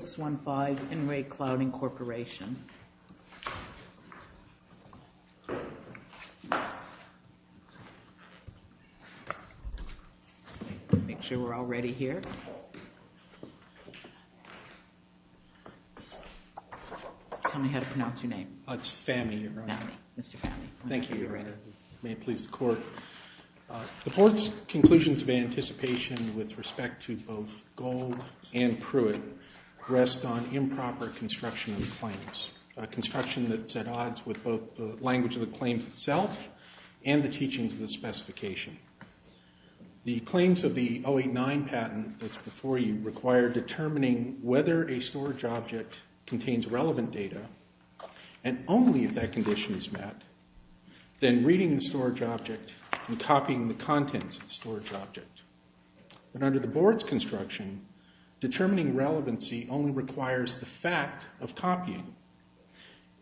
Make sure we're all ready here. Tell me how to pronounce your name. It's Fami. Mr. Fami. Thank you. May it please the Court. The Court's conclusions of anticipation with respect to both Gold and Pruitt rest on improper construction of the claims. Construction that's at odds with both the language of the claims itself and the teachings of the specification. The claims of the 089 patent that's before you require determining whether a storage object contains relevant data, and only if that condition is met, then reading the storage object and copying the contents of the storage object. But under the Board's construction, determining relevancy only requires the fact of copying.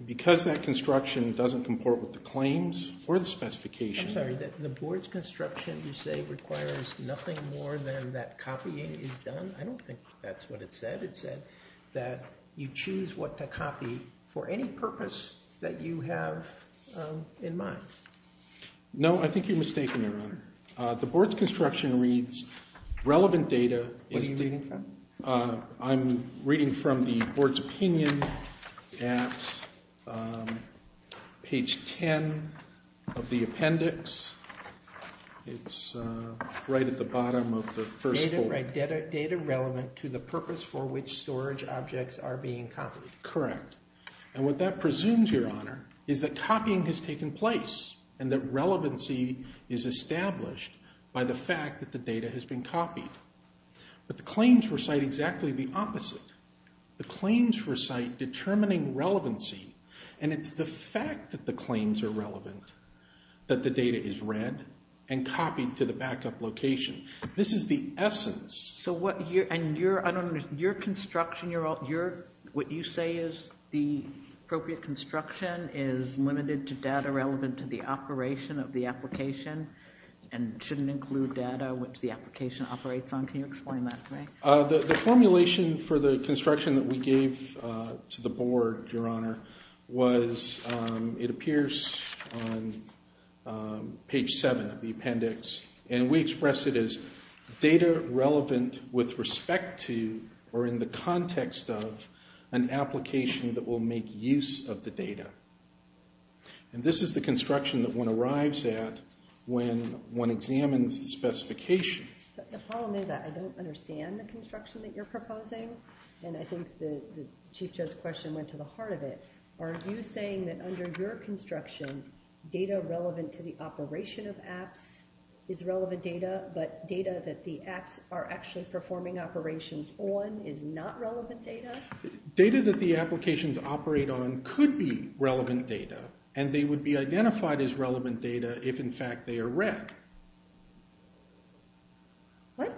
Because that construction doesn't comport with the claims or the specification... I'm sorry, the Board's construction you say requires nothing more than that copying is done? I don't think that's what it said. It said that you choose what to copy for any purpose that you have in mind. No, I think you're mistaken, Your Honor. The Board's construction reads relevant data... What are you reading from? I'm reading from the Board's opinion at page 10 of the appendix. It's right at the bottom of the first page. Data relevant to the purpose for which storage and copying has taken place, and that relevancy is established by the fact that the data has been copied. But the claims recite exactly the opposite. The claims recite determining relevancy, and it's the fact that the claims are relevant that the data is read and copied to the backup location. This is the essence... And your construction, what you say is the appropriate construction is limited to data relevant to the operation of the application, and shouldn't include data which the application operates on? Can you explain that to me? The formulation for the construction that we gave to the Board, Your Honor, was... It appears on page 7 of the appendix, and we express it as data relevant with respect to, or in the context of, an application that will make use of the data. And this is the construction that one arrives at when one examines the specification. The problem is that I don't understand the construction that you're proposing, and I think that Chief Judge's question went to the heart of it. Are you saying that under your construction, data relevant to the operation of apps is relevant data, but data that the apps are actually performing operations on is not relevant data? Data that the applications operate on could be relevant data, and they would be identified as relevant data if, in fact, they are read. What?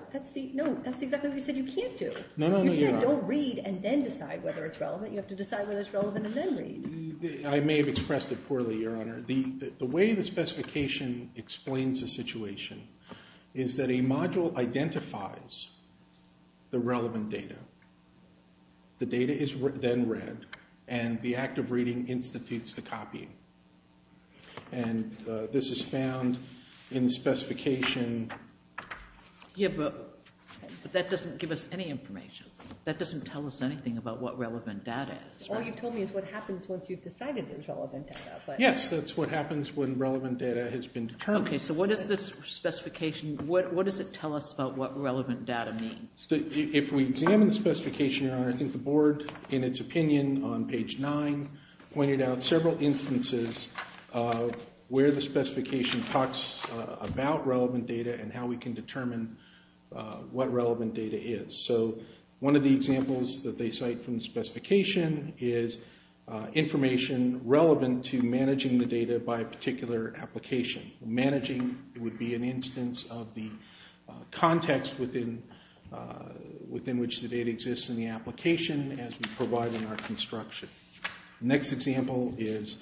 No, that's exactly what you said you can't do. You said don't read and then decide whether it's relevant. You have to decide whether it's relevant and then read. I may have expressed it poorly, Your Honor. The way the specification explains the situation is that a module identifies the relevant data. The data is then read, and the act of reading institutes the copying. And this is found in the specification... Yeah, but that doesn't give us any information. That doesn't tell us anything about what relevant data is. All you've told me is what happens once you've decided there's relevant data. Yes, that's what happens when relevant data has been determined. Okay, so what does this specification, what does it tell us about what relevant data means? If we examine the specification, Your Honor, I think the Board, in its opinion on page 9, pointed out several instances where the specification talks about relevant data and how we can determine what relevant data is. So one of the examples that they cite from the specification is information relevant to managing the data by a particular application. Managing would be an instance of the context within which the data exists in the application as we provide in our construction. The next example is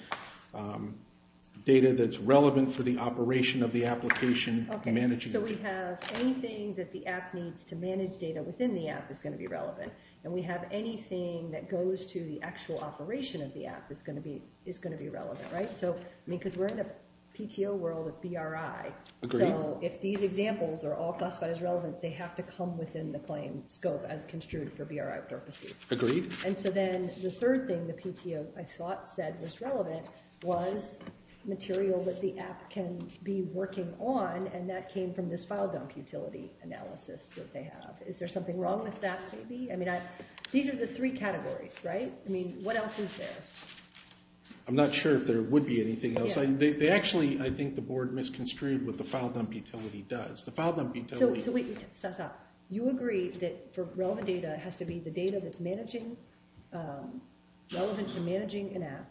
data that's relevant for the operation of the application. Okay, so we have anything that the app needs to manage data within the app is going to be relevant. And we have anything that goes to the actual operation of the app is going to be relevant, right? Because we're in a PTO world with BRI, so if these examples are all classified as relevant, they have to come within the claim scope as construed for BRI purposes. Agreed. And so then the third thing the PTO, I thought, said was relevant was material that the app can be working on, and that came from this file dump utility analysis that they have. Is there something wrong with that maybe? I mean, these are the three categories, right? I mean, what else is there? I'm not sure if there would be anything else. They actually, I think the board misconstrued what the file dump utility does. The file dump utility... So wait, stop, stop. You agree that relevant data has to be the data that's managing, relevant to managing an app,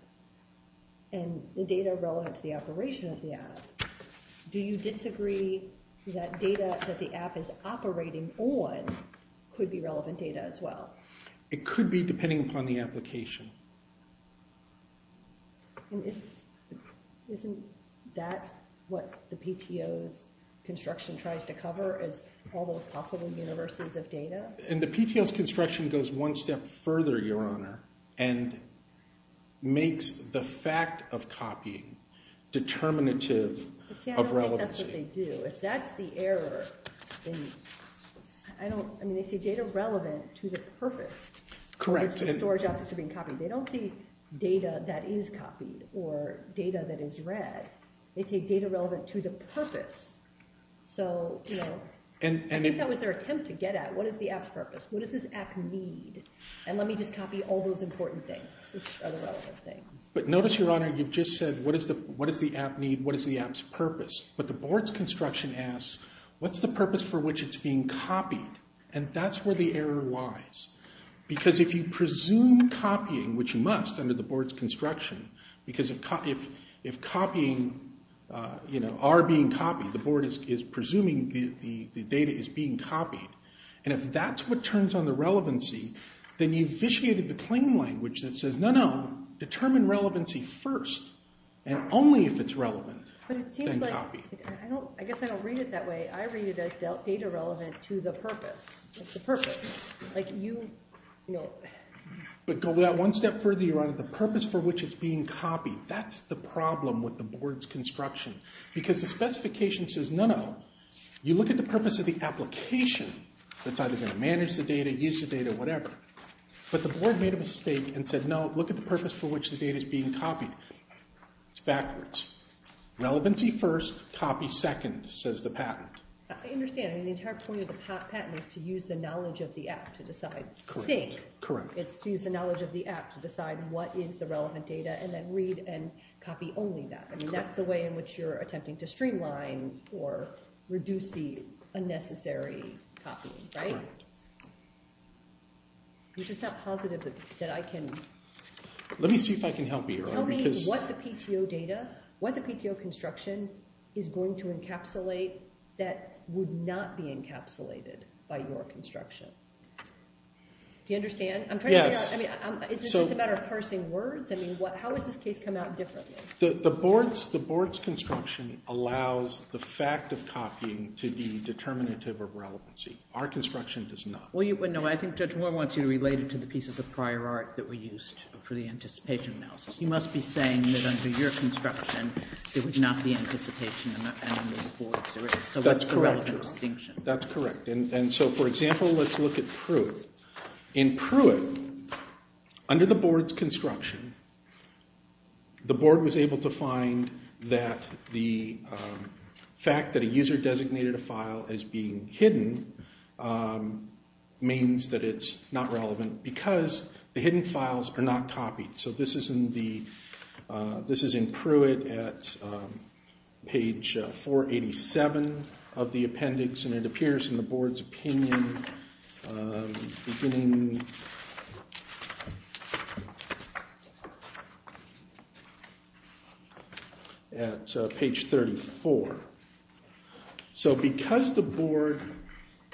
and the data relevant to the operation of the app. Do you disagree that data that the app is operating on could be relevant data as well? It could be relevant. Isn't that what the PTO's construction tries to cover as all those possible universes of data? And the PTO's construction goes one step further, Your Honor, and makes the fact of copying determinative of relevancy. I don't think that's what they do. If that's the error, I don't, I mean, they say data relevant to the purpose. Correct. They don't say data that is copied or data that is read. They say data relevant to the purpose. So, you know, I think that was their attempt to get at, what is the app's purpose? What does this app need? And let me just copy all those important things, which are the relevant things. But notice, Your Honor, you've just said, what does the app need? What is the app's purpose? But the board's construction asks, what's the purpose for which it's being copied? And that's where the error lies. Because if you presume copying, which you must under the board's construction, because if copying, you know, are being copied, the board is presuming the data is being copied, and if that's what turns on the relevancy, then you've vitiated the claim language that says, no, no, determine relevancy first, and only if it's relevant, then copy. But it seems like, I guess I don't read it that way. I read it as data relevant to the purpose. It's the purpose. Like you, you know. But go that one step further, Your Honor, the purpose for which it's being copied, that's the problem with the board's construction. Because the specification says none of them. You look at the purpose of the application, that's either going to manage the data, use the data, whatever. But the purpose for which the data is being copied, it's backwards. Relevancy first, copy second, says the patent. I understand. I mean, the entire point of the patent is to use the knowledge of the app to decide. Correct. It's to use the knowledge of the app to decide what is the relevant data, and then read and copy only that. I mean, that's the way in which you're attempting to streamline or reduce the unnecessary copying, right? You're just not positive that I can... Let me see if I can help you, Your Honor. Tell me what the PTO data, what the PTO construction is going to encapsulate that would not be encapsulated by your construction. Do you understand? I'm trying to figure out, I mean, is this just a matter of parsing words? I mean, how has this case come out differently? The board's construction allows the fact of copying to be determinative of relevancy. Our construction does not. Well, no, I think Judge Moore wants you to relate it to the pieces of prior art that were used for the anticipation analysis. You must be saying that under your construction, there would not be anticipation under the board's. So what's the relevant distinction? That's correct. And so, for example, let's look at Pruitt. In Pruitt, under the board's construction, the board was able to find that the fact that a user designated a file as being hidden means that it's not relevant because the hidden files are not copied. So this is in Pruitt at page 487 of the appendix, and it appears in the board's opinion beginning at page 34. So because the board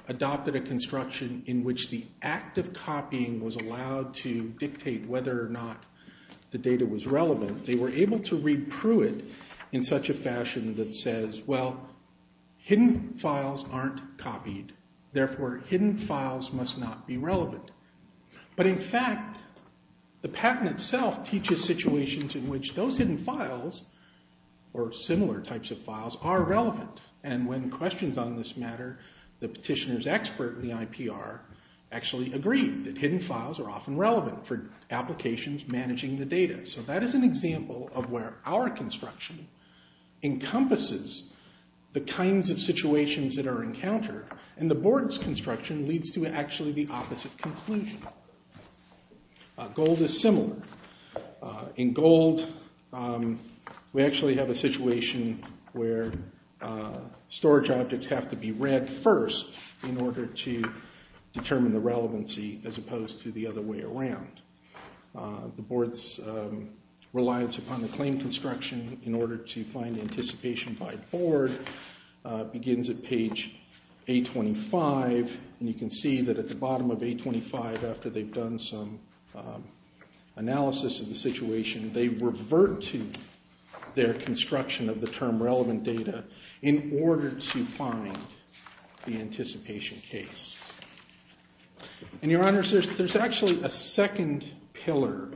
adopted a construction in which the act of copying was allowed to dictate whether or not the data was relevant, they were able to read Pruitt in such a fashion that says, well, hidden files aren't copied. Therefore, hidden files must not be relevant. But in fact, the patent itself teaches situations in which those hidden files, or similar types of files, are relevant. And when questions on this matter, the petitioner's expert in the IPR actually agreed that hidden files are often relevant for applications managing the data. So that is an example of where our construction encompasses the kinds of situations that are encountered, and the board's construction leads to actually the opposite conclusion. Gold is similar. In gold, we actually have a situation where storage objects have to be read first in order to determine the relevancy, as opposed to the other way around. The board's reliance upon the claim construction in order to find anticipation by the board begins at page 825, and you can see that at the bottom of 825, after they've done some analysis of the situation, they revert to their construction of the term relevant data in order to find the anticipation case. And Your Honor, there's actually a second pillar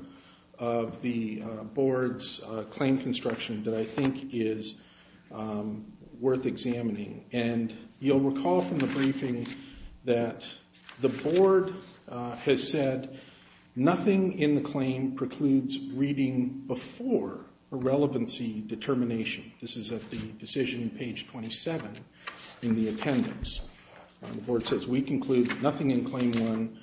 of the board's claim construction that I think is worth examining. And you'll recall from the briefing that the board has said, nothing in the claim precludes reading before a relevancy determination. This is at the decision on page 27 in the attendance. The board says, we conclude that nothing in claim 1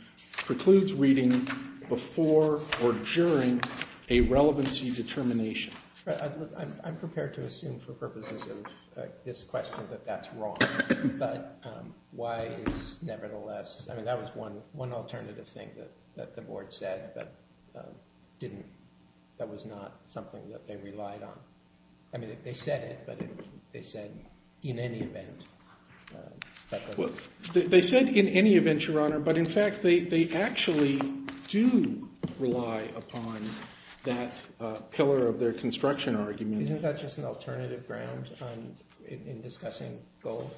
precludes reading before or during a relevancy determination. I'm prepared to assume for purposes of this question that that's wrong, but why is nevertheless, I mean, that was one not something that they relied on. I mean, they said it, but they said in any event. They said in any event, Your Honor, but in fact they actually do rely upon that pillar of their construction argument. Isn't that just an alternative ground in discussing gold?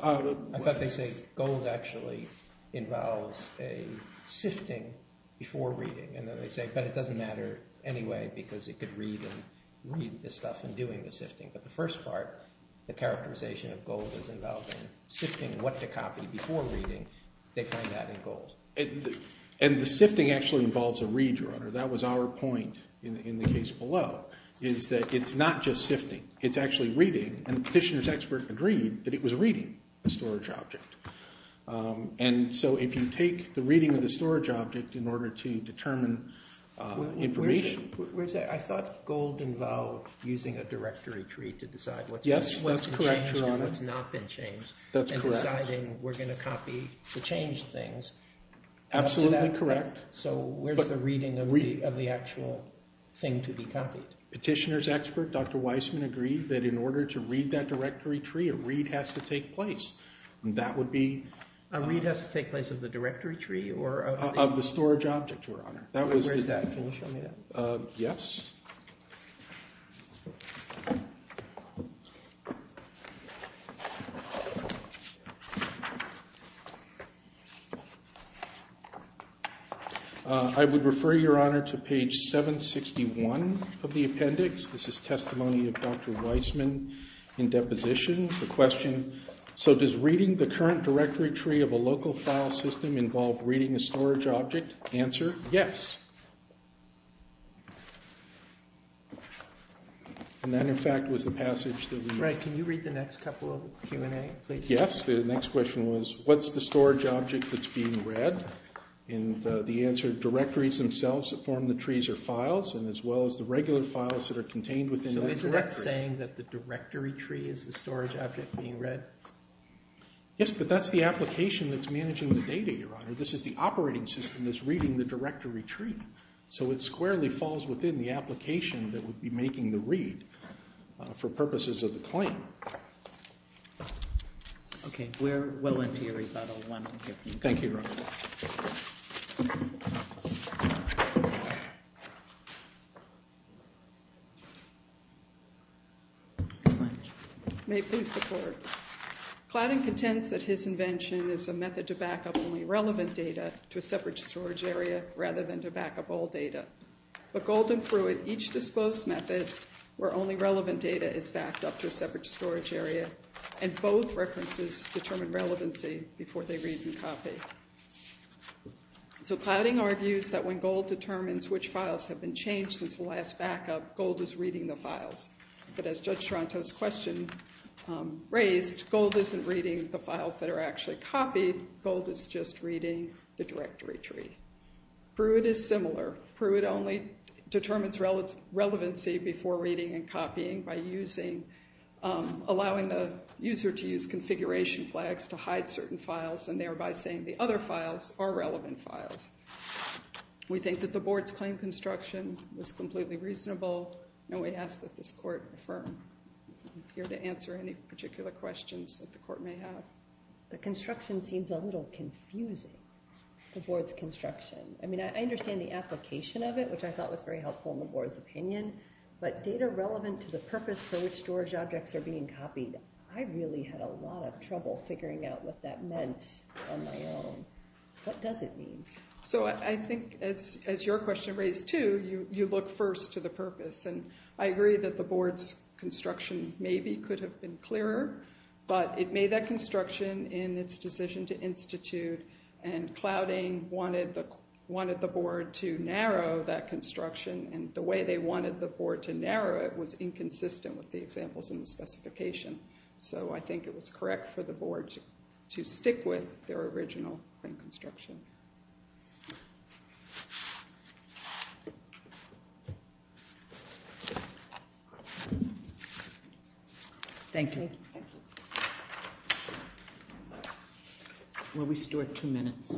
I thought they say gold actually involves a sifting before reading. And then they say, but it doesn't matter anyway, because it could read this stuff in doing the sifting. But the first part, the characterization of gold is involved in sifting what to copy before reading. They find that in gold. And the sifting actually involves a read, Your Honor. That was our point in the case below, is that it's not just sifting. It's actually reading. And the petitioner's expert agreed that it was reading the storage object. And so if you take the reading of the storage object in order to determine information. I thought gold involved using a directory tree to decide what's been changed and what's not been changed. That's correct. And deciding we're going to copy to change things. Absolutely correct. So where's the reading of the actual thing to be copied? Petitioner's expert, Dr. Weissman, agreed that in order to read that directory tree, a read has to take place. And that would be. A read has to take place of the directory tree? Of the storage object, Your Honor. Where's that? Can you show me that? Yes. I would refer, Your Honor, to page 761 of the appendix. This is testimony of Dr. Weissman in deposition. The question. So does reading the current directory tree of a local file system involve reading a storage object? Answer. Yes. And that, in fact, was the passage that we made. Can you read the next couple of Q&A? Yes. The next question was, what's the storage object that's being read? And the answer, directories themselves that form the trees are files and as well as the regular files that are contained within the directory. So isn't that saying that the directory tree is the storage object being read? Yes, but that's the application that's managing the data, Your Honor. This is the operating system that's reading the directory tree. So it squarely falls within the application that would be making the read for purposes of the claim. Okay. We're willing to hear about it. Thank you, Your Honor. Ms. Lynch. May it please the Court. Cladding contends that his invention is a method to back up only relevant data to a separate storage area rather than to back up all data. But Gold and Pruitt each dispose methods where only relevant data is backed up to a separate storage area and both references determine relevancy before they read and copy. So Cladding argues that when Gold determines which files have been changed since the last backup, Gold is reading the files. But as Judge Toronto's question raised, Gold isn't reading the files that are actually copied. Gold is just reading the directory tree. Pruitt is similar. Pruitt only determines relevancy before reading and copying by allowing the user to use configuration flags to hide certain files and thereby saying the other files are relevant files. We think that the Board's claim construction was completely reasonable and we ask that this Court affirm. I'm here to answer any particular questions that the Court may have. The construction seems a little confusing, the Board's construction. I mean, I understand the application of it, which I thought was very helpful in the Board's opinion, but data relevant to the purpose for which storage objects are being copied, I really had a lot of trouble figuring out what that meant on my own. What does it mean? So I think as your question raised too, you look first to the purpose and I agree that the Board's construction maybe could have been clearer, but it made that construction in its decision to institute and Cladding wanted the Board to narrow that construction and the way they wanted the Board to narrow it was inconsistent with the examples in the specification. So I think it was correct for the Board to stick with their original claim construction. Thank you. Will we still have two minutes?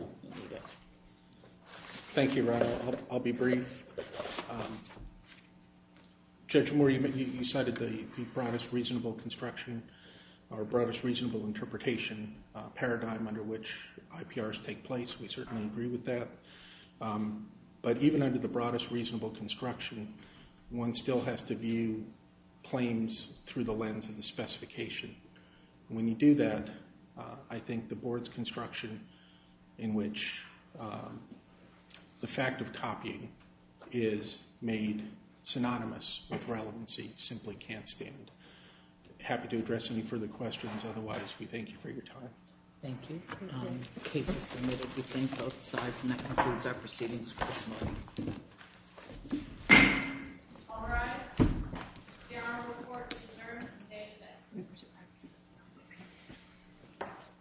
Thank you, Ron. I'll be brief. Judge Moore, you cited the broadest reasonable construction or broadest reasonable interpretation paradigm under which IPRs take place. We certainly agree with that. But even under the broadest reasonable construction, one still has to view claims through the lens of the specification. When you do that, I think the Board's construction in which the fact of copying is made synonymous with relevancy simply can't stand. Happy to address any further questions. Otherwise, we thank you for your time. Thank you.